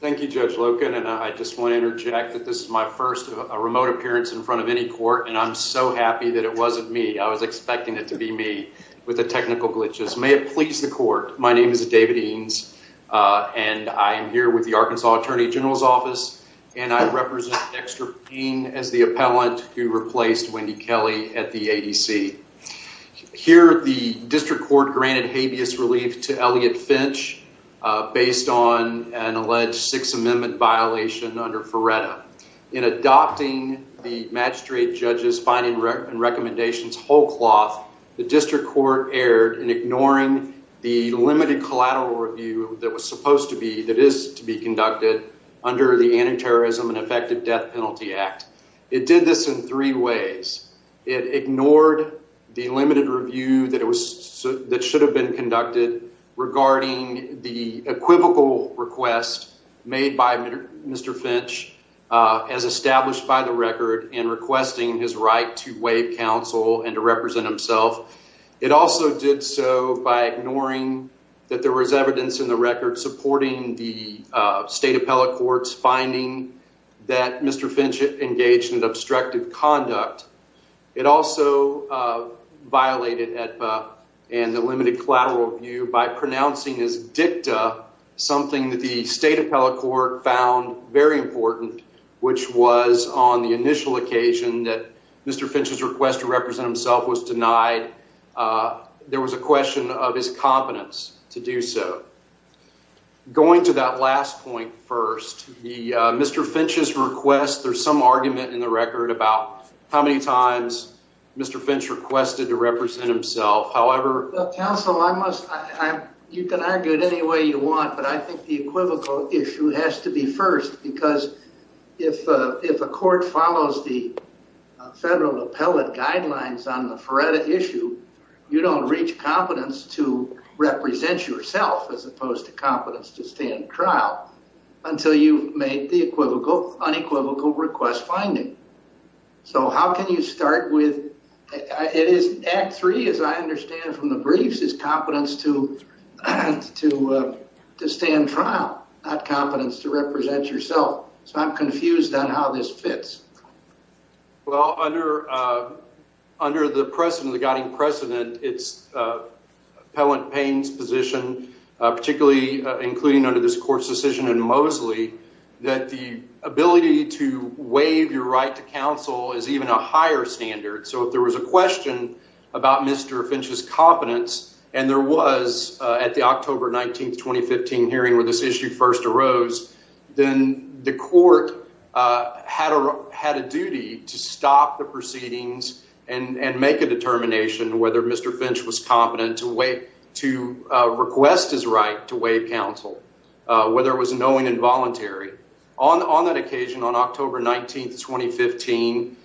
Thank you, Judge Loken, and I just want to interject that this is my first remote appearance in front of any court, and I'm so happy that it wasn't me. I was expecting it to be me with the technical glitches. May it please the court, my name is David Eanes, and I'm here with the Arkansas Attorney General's Office, and I represent Dexter Payne as the appellant who replaced Wendy Kelly at the ADC. Here, the district court granted habeas relief to Elliot Finch based on an alleged Sixth Amendment violation under Ferretta. In adopting the magistrate judge's finding and recommendations whole cloth, the district court erred in ignoring the limited collateral review that was supposed to be, that is to be conducted under the Anti-Terrorism and Effective Death Penalty Act. It did this in three ways. It ignored the limited review that should have been conducted regarding the equivocal request made by Mr. Finch as established by the record in requesting his right to waive counsel and to represent himself. It also did so by ignoring that there was evidence in the record supporting the state It also violated AEDPA and the limited collateral review by pronouncing his dicta something that the state appellate court found very important, which was on the initial occasion that Mr. Finch's request to represent himself was denied, there was a question of his confidence to do so. Going to that last point first, Mr. Finch's request, there's some argument in the record about how many times Mr. Finch requested to represent himself, however... Counsel, you can argue it any way you want, but I think the equivocal issue has to be first because if a court follows the federal appellate guidelines on the Ferretta issue, you don't reach competence to represent yourself as opposed to competence to stand trial until you've made the unequivocal request finding. So how can you start with, it is Act 3 as I understand from the briefs is competence to stand trial, not competence to represent yourself, so I'm confused on how this fits. Well under the precedent, the guiding precedent, it's Appellant Payne's position, particularly including under this court's decision in Mosley, that the ability to waive your right to counsel is even a higher standard. So if there was a question about Mr. Finch's competence, and there was at the October 19, 2015 hearing where this issue first arose, then the court had a duty to stop the proceedings and make a determination whether Mr. Finch was competent to request his right to waive counsel, whether it was knowing and voluntary. On that occasion, on October 19, 2015,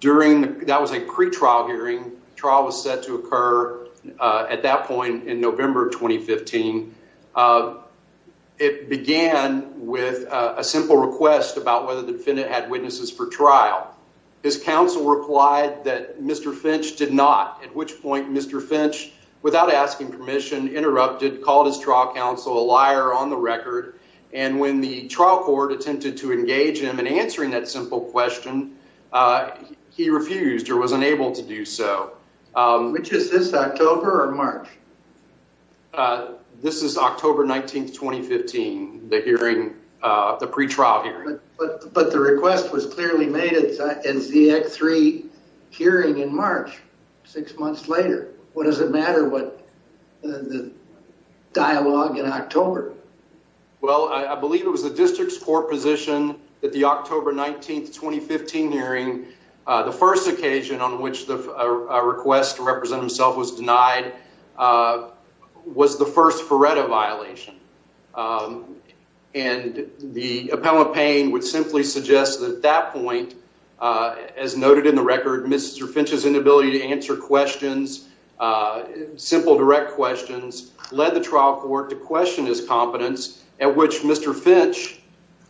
during, that was a pre-trial hearing, trial was set to occur at that point in November, 2015. It began with a simple request about whether the defendant had witnesses for trial. His counsel replied that Mr. Finch did not, at which point Mr. Finch, without asking permission, interrupted, called his trial counsel a liar on the record, and when the trial court attempted to engage him in answering that simple question, he refused or was unable to do so. Which is this, October or March? This is October 19, 2015, the hearing, the pre-trial hearing. But the request was clearly made at ZX3 hearing in March, six months later. What does it matter what the dialogue in October? Well, I believe it was the district's court position that the October 19, 2015 hearing, the first occasion on which a request to represent himself was denied, was the first Ferretta violation. And the appellate pane would simply suggest that at that point, as noted in the record, Mr. Finch's inability to answer questions, simple direct questions, led the trial court to question his competence, at which Mr. Finch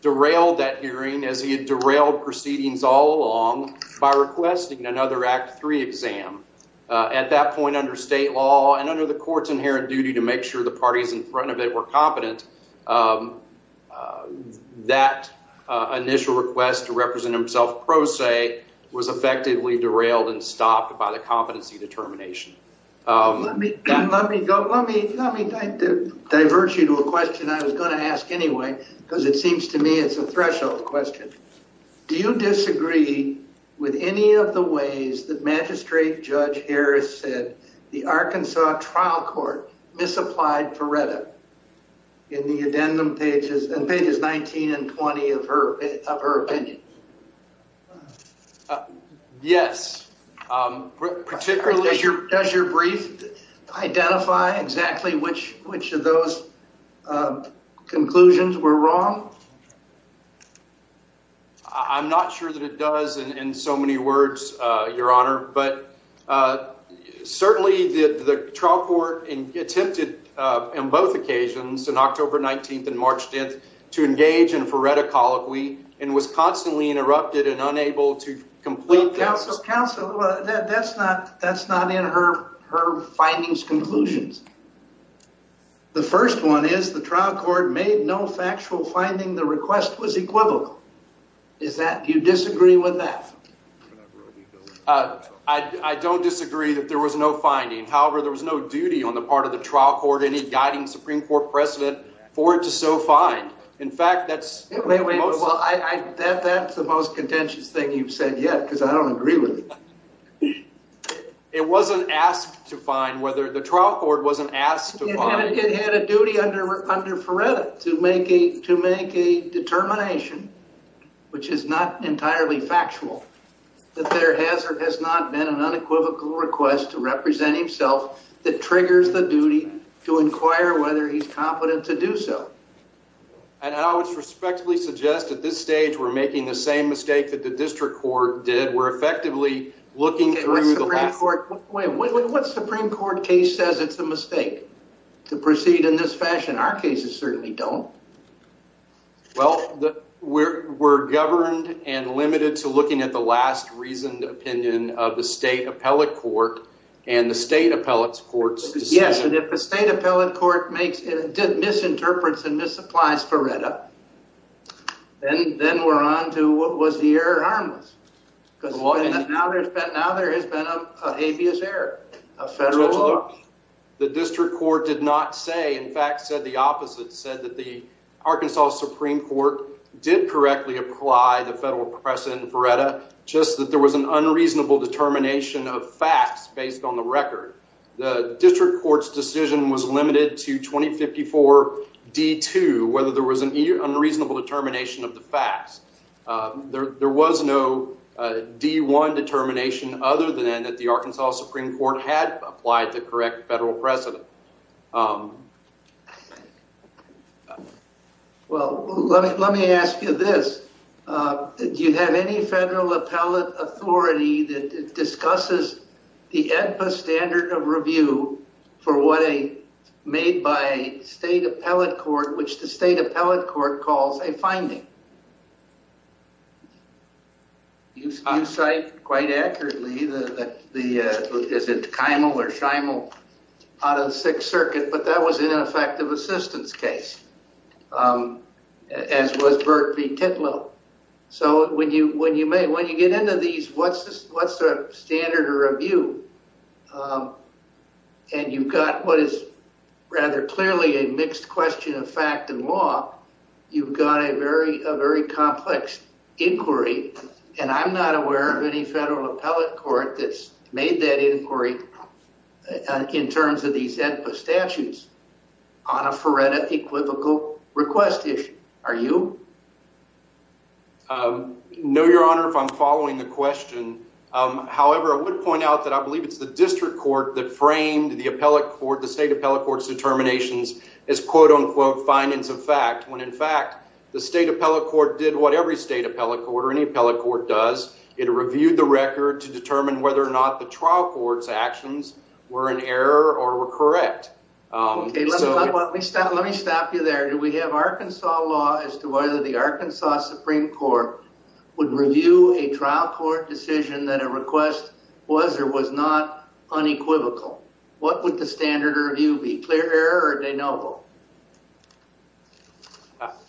derailed that hearing as he had derailed proceedings all along by requesting another Act III exam. At that point, under state law and under the court's inherent duty to make sure the party in front of it were competent, that initial request to represent himself pro se was effectively derailed and stopped by the competency determination. Let me divert you to a question I was going to ask anyway, because it seems to me it's a threshold question. Do you disagree with any of the ways that Magistrate Judge Harris said the Arkansas trial court misapplied Ferretta in the addendum pages 19 and 20 of her opinion? Yes. Particularly... Does your brief identify exactly which of those conclusions were wrong? I'm not sure that it does in so many words, Your Honor, but certainly the trial court attempted on both occasions, on October 19th and March 10th, to engage in a Ferretta colloquy and was constantly interrupted and unable to complete that. Counsel, that's not in her findings conclusions. The first one is the trial court made no factual finding the request was equivocal. Do you disagree with that? I don't disagree that there was no finding. However, there was no duty on the part of the trial court, any guiding Supreme Court precedent for it to so find. In fact, that's... That's the most contentious thing you've said yet, because I don't agree with it. It wasn't asked to find whether... The trial court wasn't asked to find... It had a duty under Ferretta to make a determination, which is not entirely factual, that there has or has not been an unequivocal request to represent himself that triggers the duty to inquire whether he's competent to do so. And I would respectfully suggest at this stage we're making the same mistake that the district court did. We're effectively looking through the last... What Supreme Court case says it's a mistake to proceed in this fashion? Our cases certainly don't. Well, we're governed and limited to looking at the last reasoned opinion of the state appellate court and the state appellate court's decision. Yes, and if the state appellate court did misinterpret and misapplies Ferretta, then we're on to what was the error harmless, because now there has been an habeas error, a federal law. The district court did not say... In fact, said the opposite, said that the Arkansas Supreme Court did correctly apply the federal precedent in Ferretta, just that there was an unreasonable determination of facts based on the record. The district court's decision was limited to 2054 D2, whether there was an unreasonable determination of the facts. There was no D1 determination other than that the Arkansas Supreme Court had applied the correct federal precedent. Well, let me ask you this. Do you have any federal appellate authority that discusses the EDPA standard of review for what a made-by-state appellate court, which the state appellate court calls a finding? You cite quite accurately, is it Keimel or Scheimel out of the Sixth Circuit, but that was in an effective assistance case, as was Bert V. Titlow. So when you get into these, what's the standard of review? And you've got what is rather clearly a mixed question of fact and law. You've got a very complex inquiry, and I'm not aware of any federal appellate court that's made that inquiry in terms of these EDPA statutes on a Ferretta equivocal request issue. Are you? No, Your Honor, if I'm following the question. However, I would point out that I believe it's the district court that framed the appellate court, the state appellate court's determinations as quote-unquote finance of fact, when in fact, the state appellate court did what every state appellate court or any appellate court does. It reviewed the record to determine whether or not the trial court's actions were an error or were correct. Okay, let me stop you there. Do we have Arkansas law as to whether the Arkansas Supreme Court would review a trial court decision that a request was or was not unequivocal? What would the standard of review be, clear error or de novo?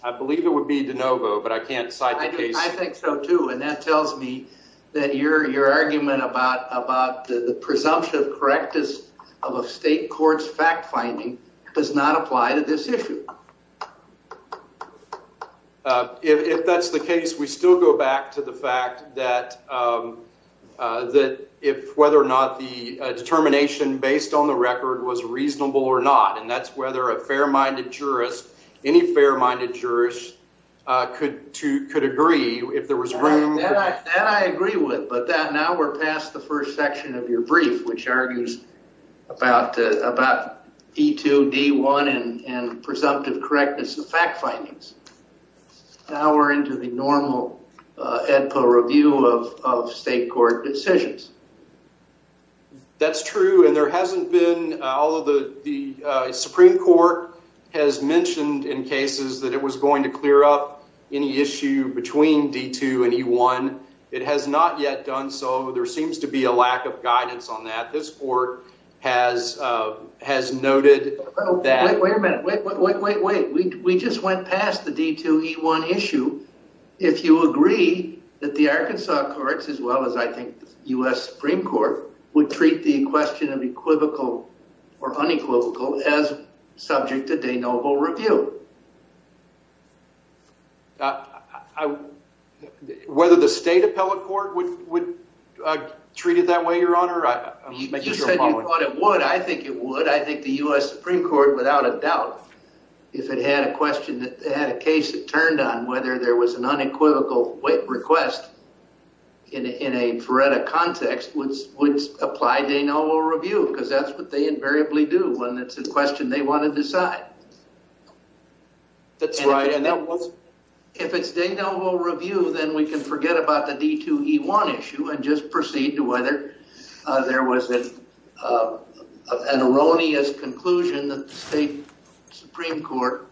I believe it would be de novo, but I can't cite the case. I think so too, and that tells me that your argument about the presumption of correctness of a state court's fact finding does not apply to this issue. If that's the case, we still go back to the fact that if whether or not the determination based on the record was reasonable or not, and that's whether a fair-minded jurist, any fair-minded jurist could agree if there was room. That I agree with, but now we're past the first section of your brief, which argues about D2, D1, and presumptive correctness of fact findings. Now we're into the normal AEDPA review of state court decisions. That's true, and there hasn't been, although the Supreme Court has mentioned in cases that it was going to clear up any issue between D2 and E1, it has not yet done so. There seems to be a lack of guidance on that. This court has noted that- Wait a minute. Wait, wait, wait, wait. We just went past the D2, E1 issue. If you agree that the Arkansas courts, as well as I think the U.S. Supreme Court, would whether the state appellate court would treat it that way, Your Honor? You said you thought it would. I think it would. I think the U.S. Supreme Court, without a doubt, if it had a question, if it had a case that turned on whether there was an unequivocal request in a veredic context, would apply to a normal review because that's what they invariably do when it's a question they want to decide. That's right. And that was- If it's de novo review, then we can forget about the D2, E1 issue and just proceed to whether there was an erroneous conclusion that the state Supreme Court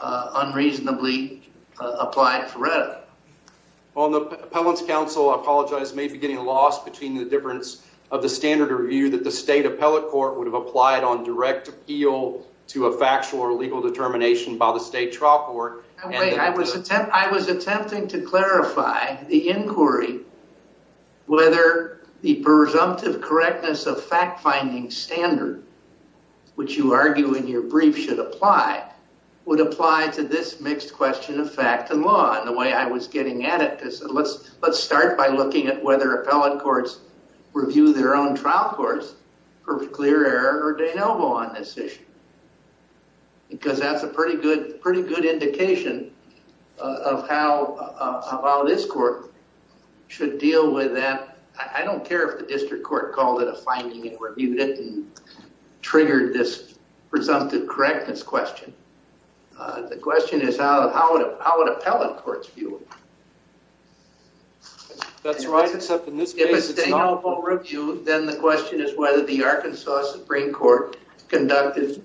unreasonably applied for veredic. On the appellant's counsel, I apologize, may be getting lost between the difference of the standard review that the state appellate court would have applied on direct appeal to a factual or legal determination by the state trial court. I was attempting to clarify the inquiry whether the presumptive correctness of fact-finding standard, which you argue in your brief should apply, would apply to this mixed question of fact and law in the way I was getting at it. Let's start by looking at whether appellate courts review their own trial courts for clear or de novo on this issue. Because that's a pretty good indication of how this court should deal with that. I don't care if the district court called it a finding and reviewed it and triggered this presumptive correctness question. The question is how would appellate courts view it. That's right, except in this case- Then the question is whether the Arkansas Supreme Court conducted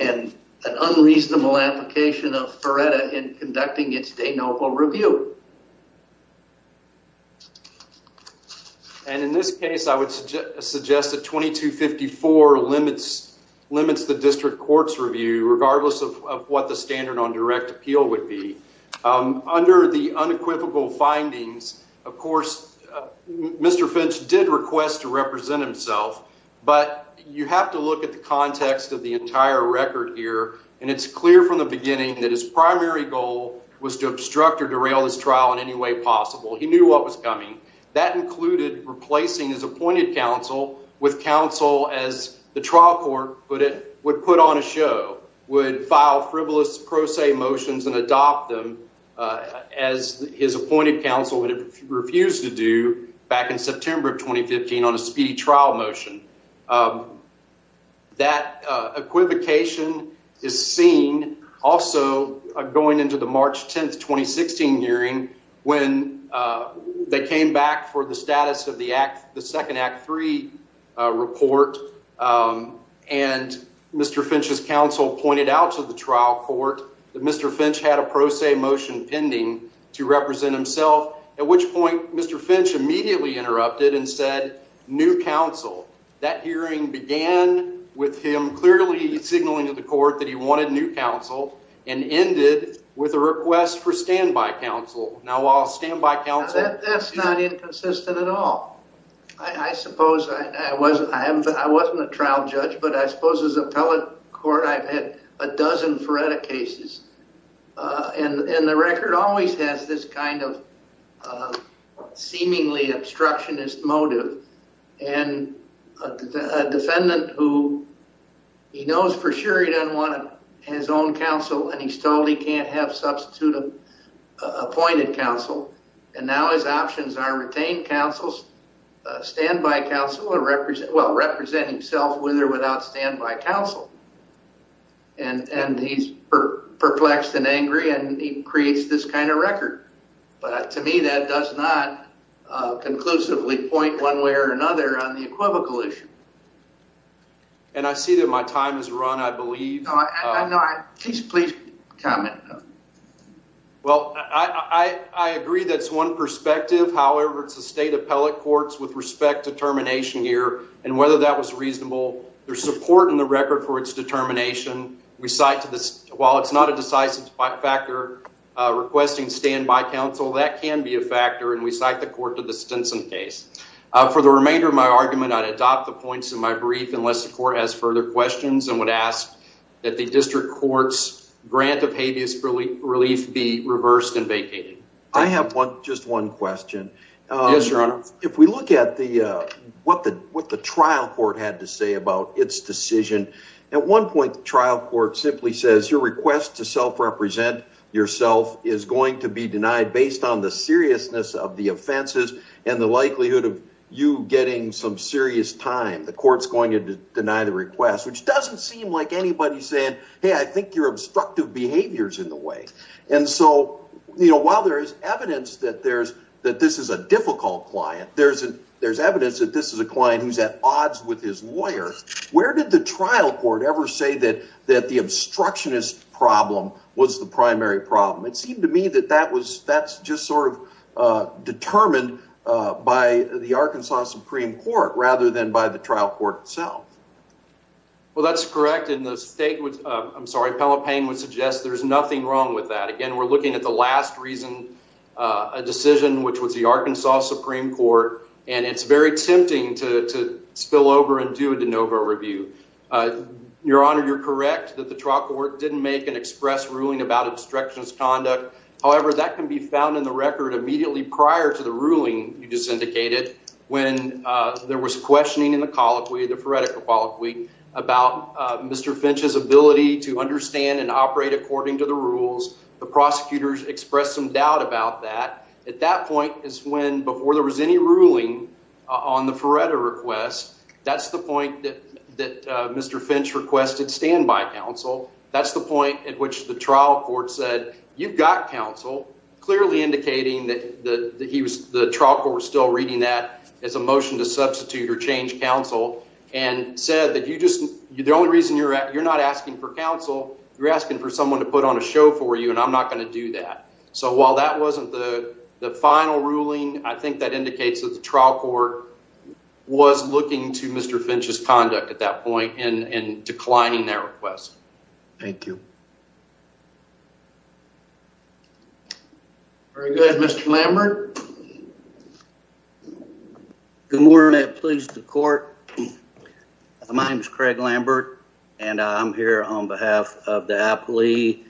an unreasonable application of veredic in conducting its de novo review. And in this case, I would suggest that 2254 limits the district court's review, regardless of what the standard on direct appeal would be. Under the unequivocal findings, of course, Mr. Finch did request to represent himself, but you have to look at the context of the entire record here, and it's clear from the beginning that his primary goal was to obstruct or derail this trial in any way possible. He knew what was coming. That included replacing his appointed counsel with counsel, as the trial court would put on a show, would file frivolous pro se motions and adopt them as his appointed counsel would have refused to do back in September of 2015 on a speedy trial motion. That equivocation is seen also going into the March 10, 2016 hearing when they came back for the status of the second Act III report, and Mr. Finch's counsel pointed out to the trial court that Mr. Finch had a pro se motion pending to represent himself, at which point Mr. Finch immediately interrupted and said, new counsel. That hearing began with him clearly signaling to the court that he wanted new counsel and ended with a request for standby counsel. That's not inconsistent at all. I suppose I wasn't a trial judge, but I suppose as appellate court I've had a dozen FREDA cases, and the record always has this kind of seemingly obstructionist motive, and a defendant who he knows for sure he doesn't want his own counsel, and he's told he can't have substitute appointed counsel, and now his options are retain counsels, standby counsel, or represent himself with or without standby counsel. And he's perplexed and angry, and he creates this kind of record. But to me, that does not conclusively point one way or another on the equivocal issue. And I see that my time has run, I believe. No, please, please comment. Well, I agree that's one perspective. However, it's a state appellate court's with respect to termination here, and whether that was reasonable. There's support in the record for its determination. We cite to this, while it's not a decisive factor requesting standby counsel, that can be a factor, and we cite the court to the Stinson case. For the remainder of my argument, I'd adopt the points in my brief unless the court has further questions and would ask that the district court's grant of habeas relief be reversed and vacated. I have just one question. Yes, Your Honor. If we look at what the trial court had to say about its decision, at one point the trial court simply says, your request to self-represent yourself is going to be denied based on the likelihood of you getting some serious time. The court's going to deny the request, which doesn't seem like anybody's saying, hey, I think your obstructive behavior's in the way. And so while there is evidence that this is a difficult client, there's evidence that this is a client who's at odds with his lawyer. Where did the trial court ever say that the obstructionist problem was the primary problem? It seemed to me that that was, that's just sort of determined by the Arkansas Supreme Court rather than by the trial court itself. Well, that's correct, and the state, I'm sorry, Pelopane would suggest there's nothing wrong with that. Again, we're looking at the last reason, a decision which was the Arkansas Supreme Court, and it's very tempting to spill over and do a de novo review. Your Honor, you're correct that the trial court didn't make an express ruling about obstructionist conduct. However, that can be found in the record immediately prior to the ruling you just indicated when there was questioning in the colloquy, the Feretta Colloquy, about Mr. Finch's ability to understand and operate according to the rules. The prosecutors expressed some doubt about that. At that point is when, before there was any ruling on the Feretta request, that's the point that Mr. Finch requested standby counsel. That's the point at which the trial court said, you've got counsel, clearly indicating that he was, the trial court was still reading that as a motion to substitute or change counsel and said that you just, the only reason you're not asking for counsel, you're asking for someone to put on a show for you and I'm not going to do that. So while that wasn't the final ruling, I think that indicates that the trial court was looking to Mr. Finch's conduct at that point and declining that request. Thank you. Very good. Mr. Lambert. Good morning. I'm pleased to court. My name is Craig Lambert and I'm here on behalf of the appellee,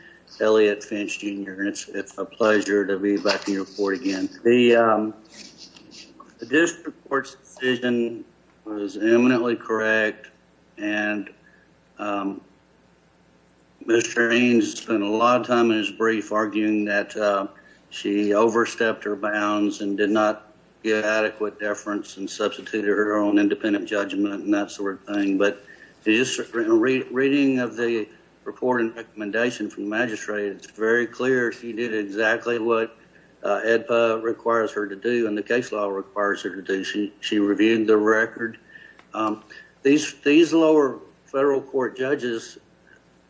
Elliot Finch Jr. and it's a pleasure to be back in your court again. The district court's decision was eminently correct and Mr. Eames spent a lot of time in his brief arguing that she overstepped her bounds and did not get adequate deference and substituted her own independent judgment and that sort of thing. But just reading of the report and recommendation from the magistrate, it's very clear she did exactly what AEDPA requires her to do and the case law requires her to do. She reviewed the record. These lower federal court judges,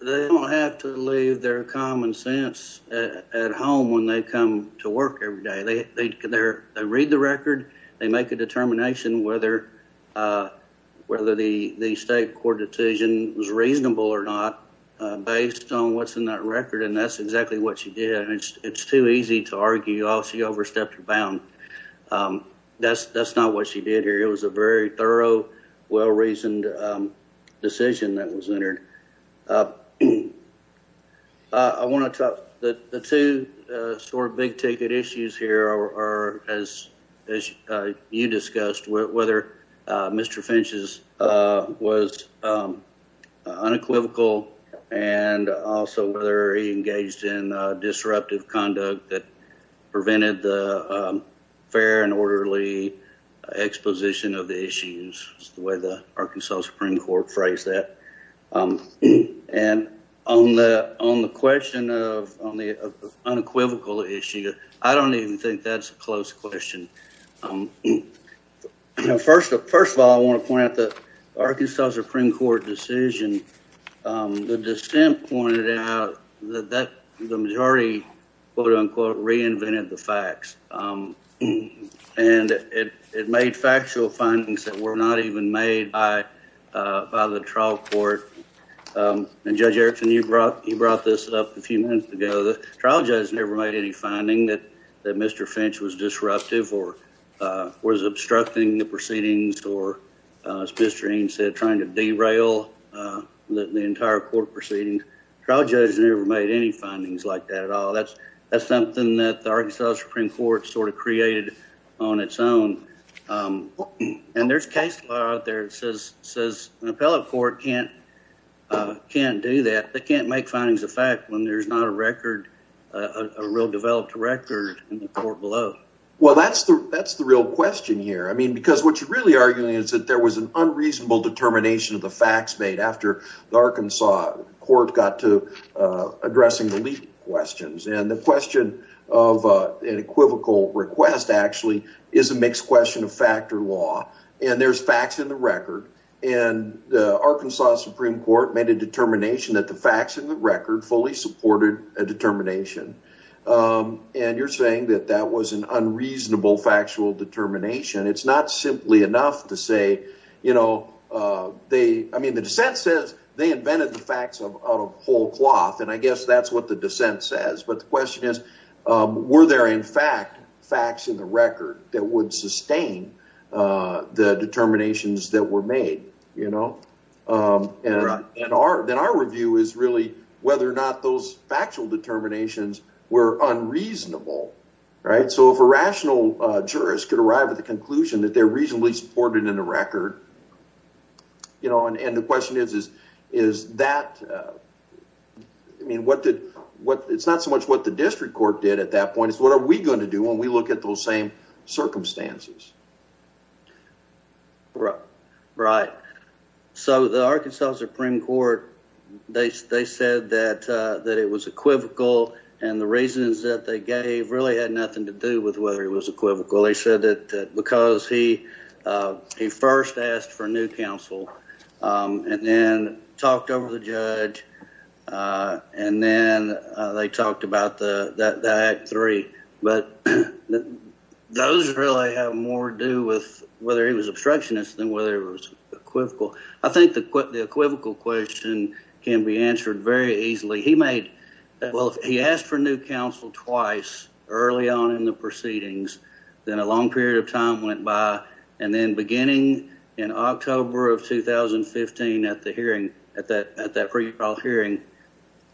they don't have to leave their common sense at home when they come to work every day. They read the record, they make a determination whether the state court decision was reasonable or not based on what's in that record and that's exactly what she did. It's too easy to argue, oh, she overstepped her bounds. That's not what she did here. It was a very thorough, well-reasoned decision that was entered. I want to talk, the two sort of big ticket issues here are, as you discussed, whether Mr. Finch's was unequivocal and also whether he engaged in disruptive conduct that prevented the fair and orderly exposition of the issues, the way the Arkansas Supreme Court phrased that, and on the question of unequivocal issue, I don't even think that's a close question. First of all, I want to point out the Arkansas Supreme Court decision, the dissent pointed out that the majority quote unquote reinvented the facts and it made factual findings that were not even made by the trial court and Judge Erickson, you brought this up a few minutes ago. The trial judge never made any finding that Mr. Finch was disruptive or was obstructing the proceedings or, as Mr. Eames said, trying to derail the entire court proceedings. The trial judge never made any findings like that at all. That's something that the Arkansas Supreme Court sort of created on its own. And there's case law out there that says an appellate court can't do that. They can't make findings of fact when there's not a record, a real developed record in the court below. Well, that's the real question here. I mean, because what you're really arguing is that there was an unreasonable determination of the facts made after the Arkansas court got to addressing the legal questions. And the question of an equivocal request actually is a mixed question of factor law. And there's facts in the record. And the Arkansas Supreme Court made a determination that the facts in the record fully supported a determination. And you're saying that that was an unreasonable factual determination. It's not simply enough to say, you know, they I mean, the dissent says they invented the facts out of whole cloth. And I guess that's what the dissent says. But the question is, were there, in fact, facts in the record that would sustain the determinations that were made? You know, and then our review is really whether or not those factual determinations were unreasonable. Right. So if a rational jurist could arrive at the conclusion that they're reasonably supported in the record, you know, and the question is, is that I mean, what did what it's not so much what the district court did at that point is what are we going to do when we look at those same circumstances? Right. So the Arkansas Supreme Court, they said that that it was equivocal. And the reasons that they gave really had nothing to do with whether it was equivocal. They said that because he he first asked for new counsel and then talked over the judge and then they talked about the three. But those really have more to do with whether he was obstructionist than whether it was equivocal. I think the equivocal question can be answered very easily. Well, he asked for new counsel twice early on in the proceedings. Then a long period of time went by. And then beginning in October of 2015 at the hearing at that pre-trial hearing,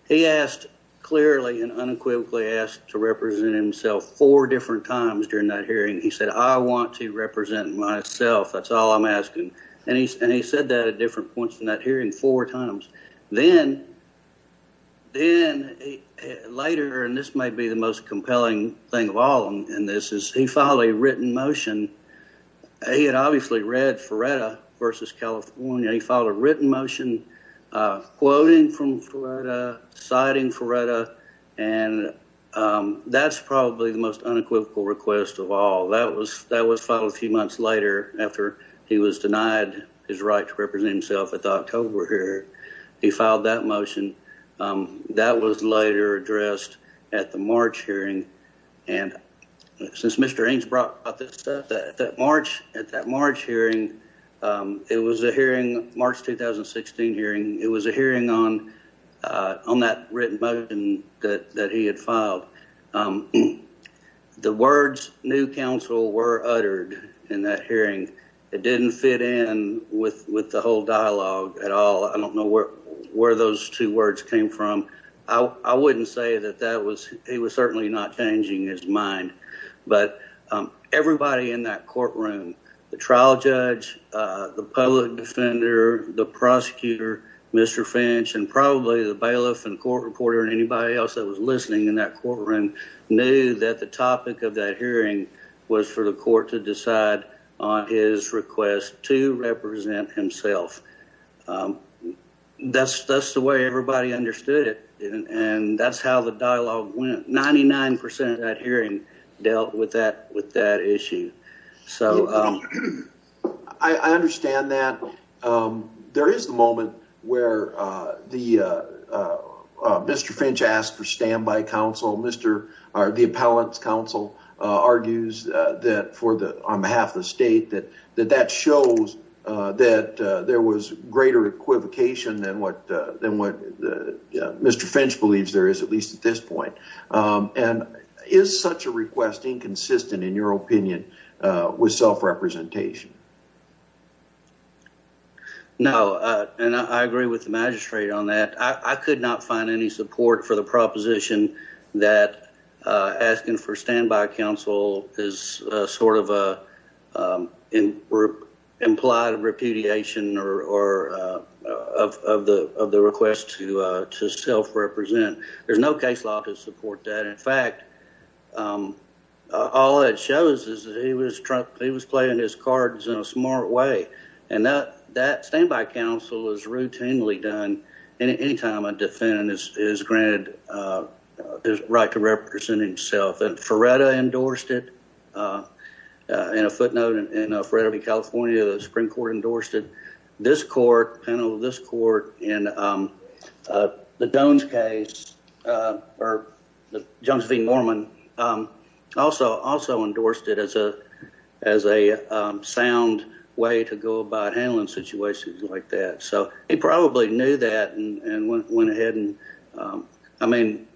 he asked clearly and unequivocally asked to represent himself four different times during that hearing. He said, I want to represent myself. That's all I'm asking. And he said that at different points in that hearing four times. Then later, and this may be the most compelling thing of all in this, is he filed a written motion. He had obviously read Ferretta versus California. He filed a written motion quoting from Ferretta, citing Ferretta. And that's probably the most unequivocal request of all. That was filed a few months later after he was denied his right to represent himself at the October hearing. He filed that motion. That was later addressed at the March hearing. And since Mr. Eames brought up this stuff, at that March hearing, it was a hearing, March 2016 hearing, it was a hearing on that written motion that he had filed. The words new counsel were uttered in that hearing. It didn't fit in with the whole dialogue at all. I don't know where those two words came from. I wouldn't say that that was, he was certainly not changing his mind. But everybody in that courtroom, the trial judge, the public defender, the prosecutor, Mr. Finch, and probably the bailiff and court reporter and anybody else that was listening in that courtroom knew that the topic of that hearing was for the court to decide on his request to represent himself. That's the way everybody understood it. And that's how the dialogue went. 99% of that hearing dealt with that issue. I understand that. There is the moment where Mr. Finch asked for standby counsel. The appellant's counsel argues on behalf of the state that that shows that there was greater equivocation than what Mr. Finch believes there is, at least at this point. Is such a request inconsistent, in your opinion, with self-representation? No. I agree with the magistrate on that. I could not find any support for the proposition that asking for standby counsel is sort of implied repudiation of the request to self-represent. There's no case law to support that. In fact, all it shows is that he was playing his cards in a smart way. And that standby counsel is routinely done anytime a defendant is granted the right to represent himself. And Feretta endorsed it. In a footnote in Frederick, California, the Supreme Court endorsed it. This court, panel of this court, in the Jones case, or the Jones v. Norman, also endorsed it as a sound way to go about handling situations like that. So he probably knew that and went ahead. I mean,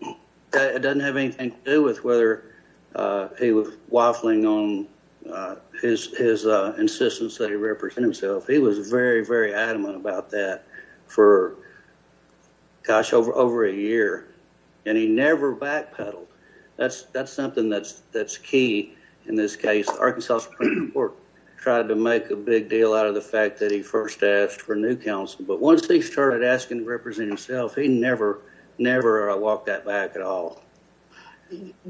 it doesn't have anything to do with whether he was waffling on his insistence that he represent himself. He was very, very adamant about that for, gosh, over a year. And he never backpedaled. That's something that's key in this case. Arkansas Supreme Court tried to make a big deal out of the fact that he first asked for new counsel. But once he started asking to represent himself, he never walked that back at all.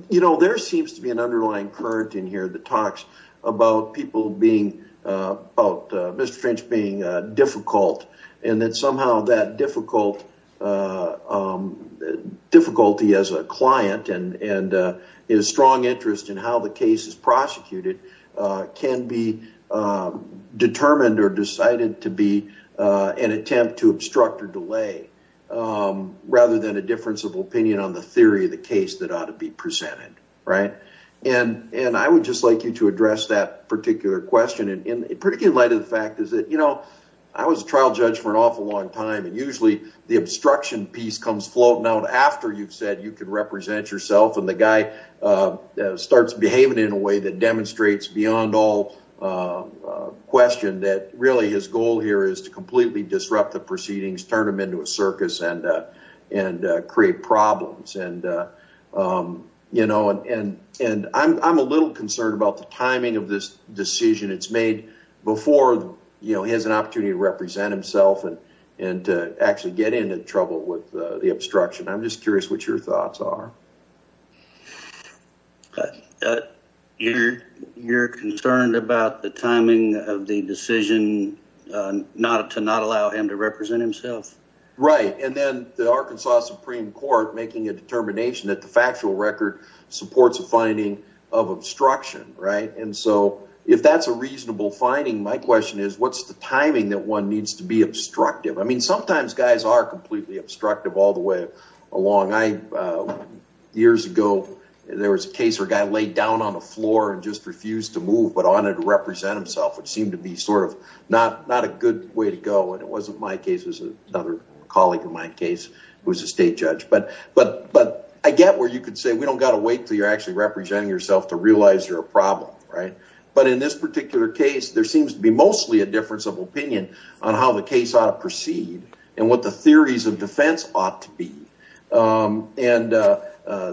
You know, there seems to be an underlying current in here that talks about people being about Mr. Finch being difficult and that somehow that difficult difficulty as a client and his strong interest in how the case is prosecuted can be determined or decided to be an attempt to obstruct or delay rather than a difference of opinion on the theory of the case that ought to be presented. Right. And and I would just like you to address that particular question. And particularly in light of the fact is that, you know, I was a trial judge for an awful long time. And usually the obstruction piece comes floating out after you've said you could represent yourself. And the guy starts behaving in a way that demonstrates beyond all question that really his goal here is to completely disrupt the proceedings, turn them into a circus and and create problems. And, you know, and and I'm a little concerned about the timing of this decision it's made before, you know, he has an opportunity to represent himself and and to actually get into trouble with the obstruction. I'm just curious what your thoughts are. You're you're concerned about the timing of the decision not to not allow him to represent himself. Right. And then the Arkansas Supreme Court making a determination that the factual record supports a finding of obstruction. Right. And so if that's a reasonable finding, my question is, what's the timing that one needs to be obstructive? I mean, sometimes guys are completely obstructive all the way along. Years ago, there was a case where a guy laid down on the floor and just refused to move, but wanted to represent himself, which seemed to be sort of not not a good way to go. And it wasn't my case. It was another colleague in my case who was a state judge. But but but I get where you could say we don't got to wait till you're actually representing yourself to realize you're a problem. Right. But in this particular case, there seems to be mostly a difference of opinion on how the case proceed and what the theories of defense ought to be. And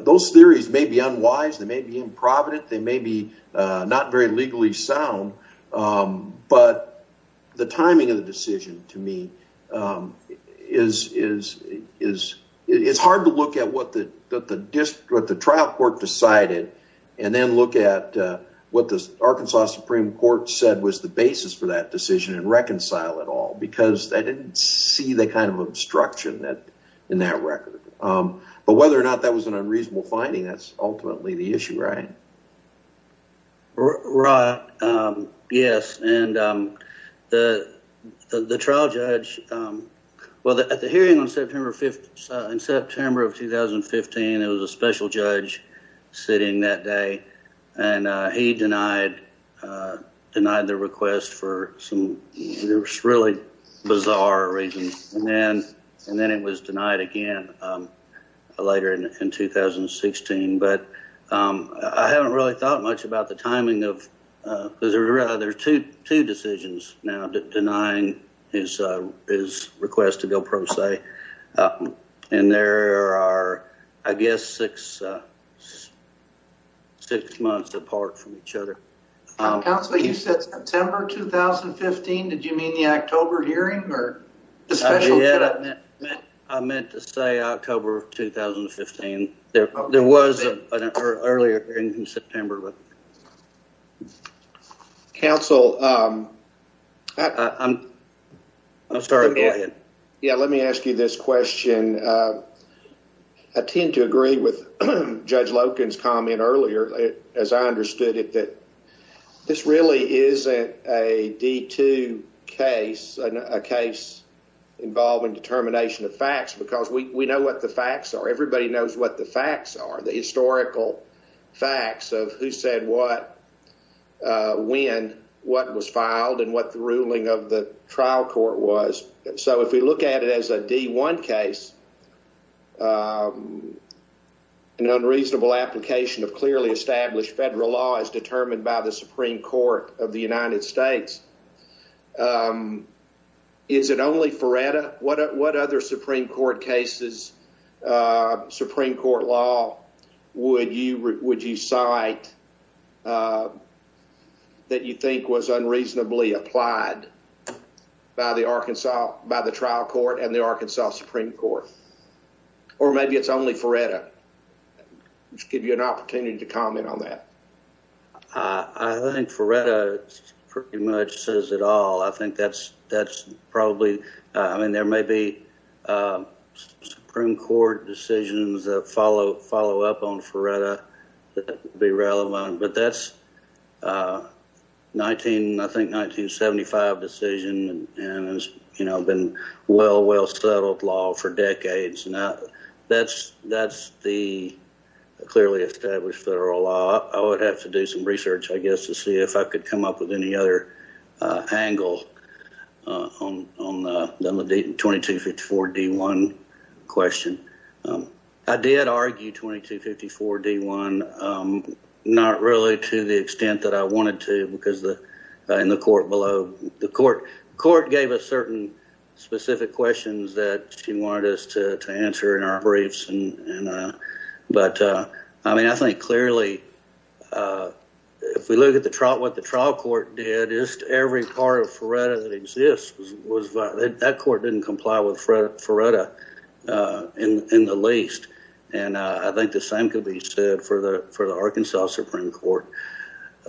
those theories may be unwise. They may be improvident. They may be not very legally sound. But the timing of the decision, to me, is is is it's hard to look at what the district, the trial court decided, and then look at what the Arkansas Supreme Court said was the I didn't see the kind of obstruction that in that record. But whether or not that was an unreasonable finding, that's ultimately the issue. Right. Right. Yes. And the the trial judge. Well, at the hearing on September 5th in September of 2015, it was a special judge sitting that day. And he denied denied the request for some really bizarre reasons. And then and then it was denied again later in 2016. But I haven't really thought much about the timing of because there are two two decisions and there are, I guess, six six months apart from each other. So you said September 2015. Did you mean the October hearing or the special? I meant to say October 2015. There was an earlier hearing in September. Counsel. I'm sorry. Yeah. Let me ask you this question. I tend to agree with Judge Logan's comment earlier, as I understood it, that this really is a D2 case, a case involving determination of facts, because we know what the facts are. Everybody knows what the facts are. The historical facts of who said what, when, what was filed and what the ruling of the case. So if we look at it as a D1 case, an unreasonable application of clearly established federal law as determined by the Supreme Court of the United States. Is it only for what? What other Supreme Court cases, Supreme Court law would you would you cite that you think was unreasonably applied by the Arkansas, by the trial court and the Arkansas Supreme Court? Or maybe it's only for it to give you an opportunity to comment on that. I think for it pretty much says it all. I think that's that's probably I mean, there may be Supreme Court decisions that follow up on Feretta that be relevant. But that's 19, I think 1975 decision. And, you know, been well, well settled law for decades. Now, that's that's the clearly established federal law. I would have to do some research, I guess, to see if I could come up with any other angle on the 2254 D1 question. I did argue 2254 D1, not really to the extent that I wanted to, because the in the court below the court court gave a certain specific questions that she wanted us to answer in our briefs. And but I mean, I think clearly, if we look at the trial, what the trial court did is every part of Feretta that exists was that court didn't comply with Fred Feretta in the least. And I think the same could be said for the for the Arkansas Supreme Court,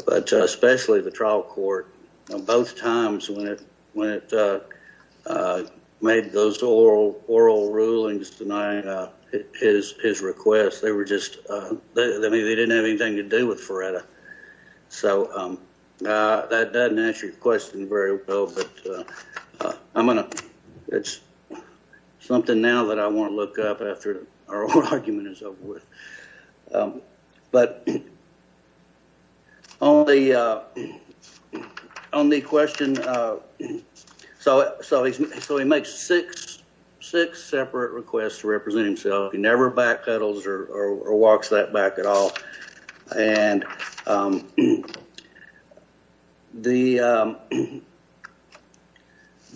but especially the trial court. Both times when it when it made those oral oral rulings denying his his request, they were just they didn't have anything to do with Feretta. So that doesn't answer your question very well, but I'm going to it's something now that I want to look up after our argument is over with. But on the on the question. So so so he makes six six separate requests to represent himself. He never backpedals or walks that back at all. And the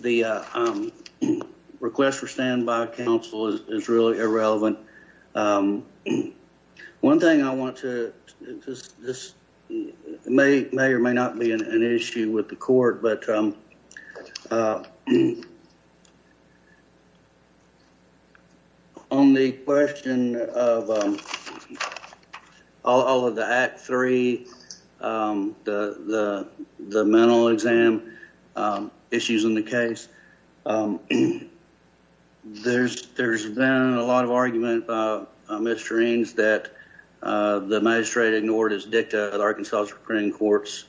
the request for standby counsel is really irrelevant. One thing I want to just this may or may not be an issue with the court. But on the question of all of the act three, the the the mental exam issues in the case, there's there's been a lot of argument, Mr. Means, that the magistrate ignored his dicta. The Arkansas Supreme Court's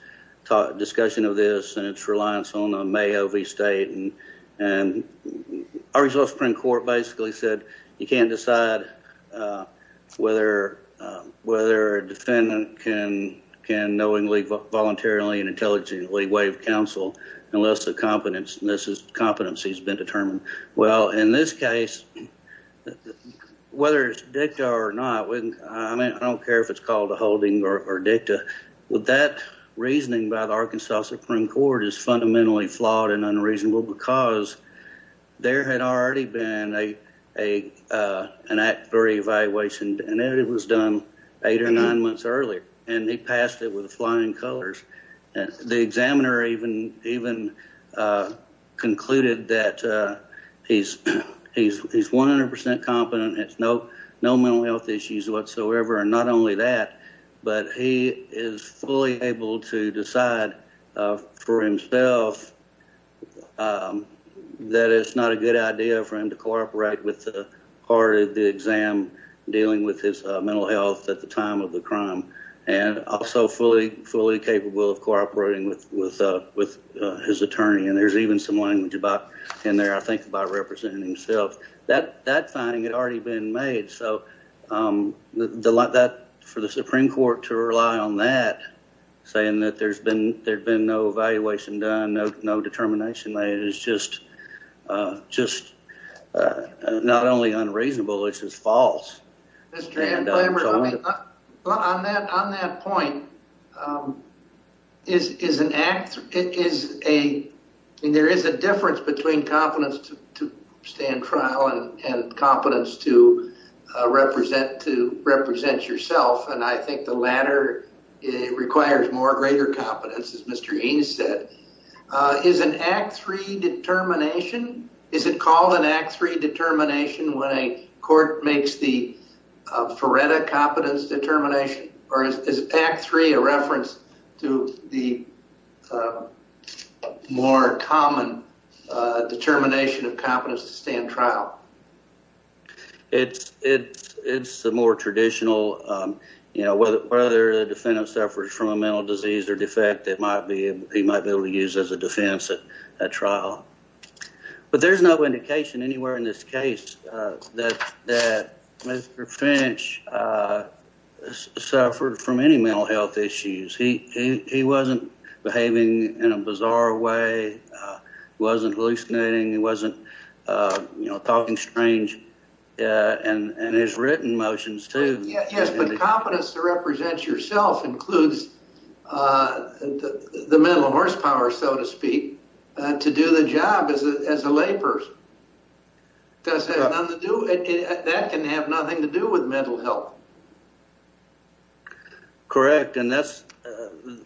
discussion of this and its reliance on a may have a state. And and Arkansas Supreme Court basically said you can't decide whether whether a defendant can can knowingly, voluntarily and intelligently waive counsel unless the competence and this is competency has been determined. Well, in this case, whether it's dicta or not, I mean, I don't care if it's called a holding or dicta. Would that reasoning by the Arkansas Supreme Court is fundamentally flawed and unreasonable because there had already been a a an act very evaluation and it was done eight or nine months earlier. And he passed it with flying colors. And the examiner even even concluded that he's he's he's 100 percent competent. It's no no mental health issues whatsoever. And not only that, but he is fully able to decide for himself that it's not a good idea for him to cooperate with the part of the exam dealing with his mental health at the time of the crime and also fully, fully capable of cooperating with with with his attorney. And there's even some language about in there, I think, by representing himself that that thing had already been made. So that for the Supreme Court to rely on that, saying that there's been there's been no evaluation done, no determination is just just not only unreasonable, it's just false. That's true. And on that point is is an act. It is a there is a difference between competence to stand trial and competence to represent to represent yourself. And I think the latter requires more greater competence. As Mr. Eanes said, is an act three determination. Is it called an act three determination when a court makes the Feretta competence determination? Or is act three a reference to the more common determination of competence to stand trial? It's it's it's a more traditional, you know, whether the defendant suffers from a mental disease or defect, it might be he might be able to use as a defense at trial. But there's no indication anywhere in this case that that Mr. Finch suffered from any mental health issues. He he wasn't behaving in a bizarre way. He wasn't hallucinating. He wasn't, you know, talking strange. And his written motions, too. Yes. But the competence to represent yourself includes the mental horsepower, so to speak, to do the job as a lay person. Does that have nothing to do that can have nothing to do with mental health? Correct. And that's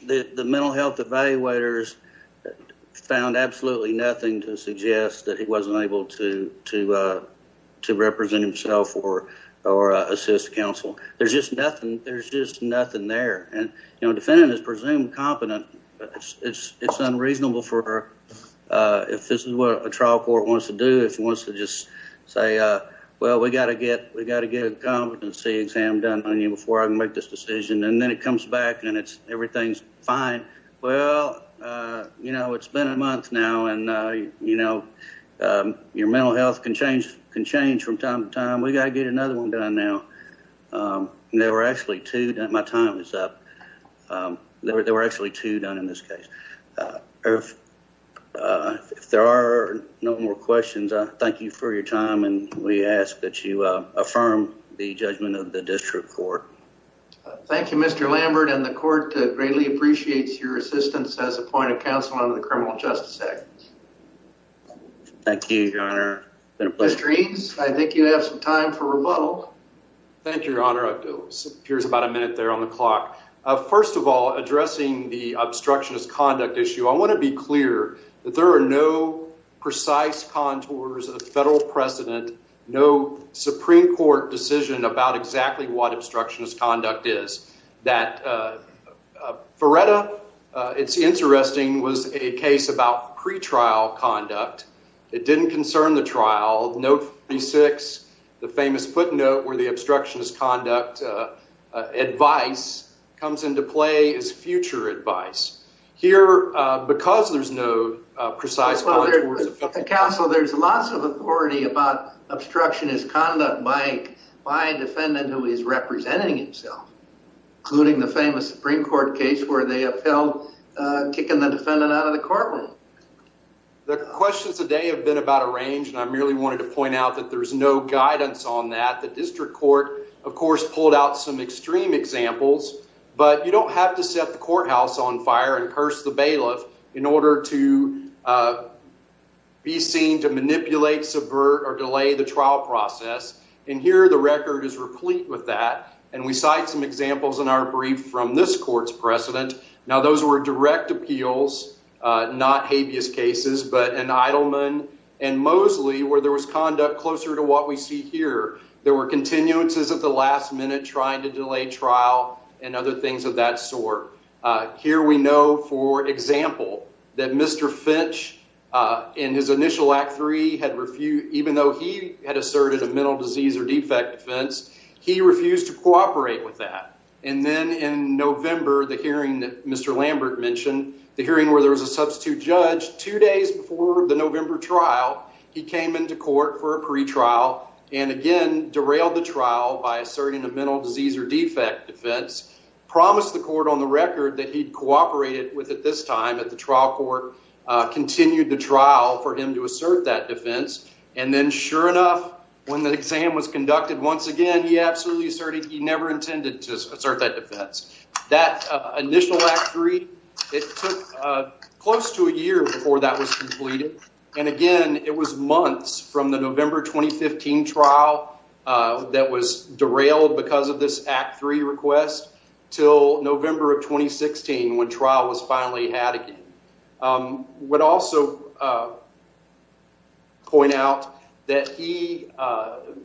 the mental health evaluators found absolutely nothing to suggest that he wasn't able to to to represent himself or or assist counsel. There's just nothing. There's just nothing there. And, you know, defendant is presumed competent. It's unreasonable for her if this is what a trial court wants to do. If he wants to just say, well, we've got to get we've got to get a competency exam done on you before I can make this decision. And then it comes back and it's everything's fine. Well, you know, it's been a month now. And, you know, your mental health can change can change from time to time. We got to get another one done now. There were actually two that my time is up. There were actually two done in this case. If there are no more questions, thank you for your time. And we ask that you affirm the judgment of the district court. Thank you, Mr. Lambert. And the court greatly appreciates your assistance as a point of counsel on the criminal justice act. Thank you, Your Honor. I think you have some time for rebuttal. Thank you, Your Honor. Here's about a minute there on the clock. First of all, addressing the obstructionist conduct issue. I want to be clear that there are no precise contours of the federal precedent, no Supreme Court decision about exactly what obstructionist conduct is that for. It's interesting was a case about pretrial conduct. It didn't concern the trial. The famous footnote where the obstructionist conduct advice comes into play is future advice here because there's no precise. So there's lots of authority about obstructionist conduct by my defendant who is representing himself, including the famous Supreme Court case where they upheld kicking the defendant out of the courtroom. The questions today have been about a range, and I merely wanted to point out that there's no guidance on that. The district court, of course, pulled out some extreme examples. But you don't have to set the courthouse on fire and curse the bailiff in order to be seen to manipulate, subvert or delay the trial process. And here the record is replete with that. And we cite some examples in our brief from this court's precedent. Now, those were direct appeals, not habeas cases, but an Eidelman and Mosley where there was conduct closer to what we see here. There were continuances at the last minute trying to delay trial and other things of that sort. Here we know, for example, that Mr. Finch in his initial act three had refused, even though he had asserted a mental disease or defect defense. He refused to cooperate with that. And then in November, the hearing that Mr. Lambert mentioned, the hearing where there was a substitute judge, two days before the November trial, he came into court for a pretrial and again derailed the trial by asserting a mental disease or defect defense, promised the court on the record that he'd cooperated with it this time at the trial court, continued the trial for him to assert that defense. And then sure enough, when the exam was conducted once again, he absolutely asserted he never intended to assert that defense. That initial act three, it took close to a year before that was completed. And again, it was months from the November 2015 trial that was derailed because of this act three request till November of 2016 when trial was finally had again. I would also point out that he,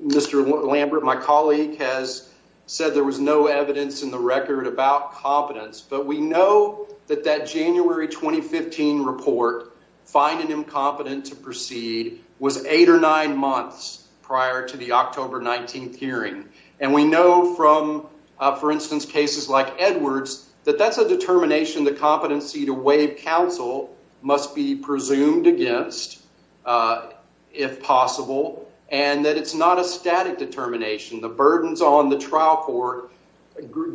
Mr. Lambert, my colleague, has said there was no evidence in the record about competence. But we know that that January 2015 report, finding him competent to proceed, was eight or nine months prior to the October 19th hearing. And we know from, for instance, cases like Edwards, that that's a determination the competency to waive counsel must be presumed against if possible. And that it's not a static determination. The burdens on the trial court,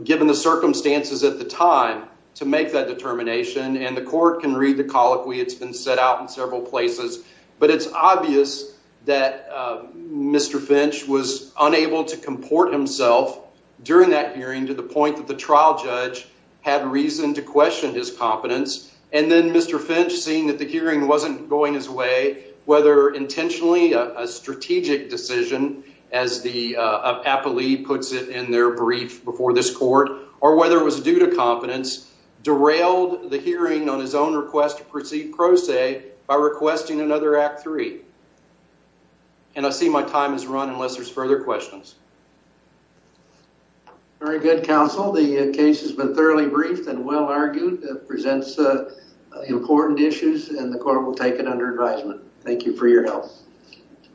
given the circumstances at the time, to make that determination. And the court can read the colloquy. It's been set out in several places. But it's obvious that Mr. Finch was unable to comport himself during that hearing to the point that the trial judge had reason to question his competence. And then Mr. Finch, seeing that the hearing wasn't going his way, whether intentionally a strategic decision, as the appellee puts it in their brief before this court, or whether it was due to competence, derailed the hearing on his own request to proceed pro se by requesting another act three. And I see my time is run unless there's further questions. Very good, counsel. The case has been thoroughly briefed and well argued. It presents important issues and the court will take it under advisement. Thank you for your help.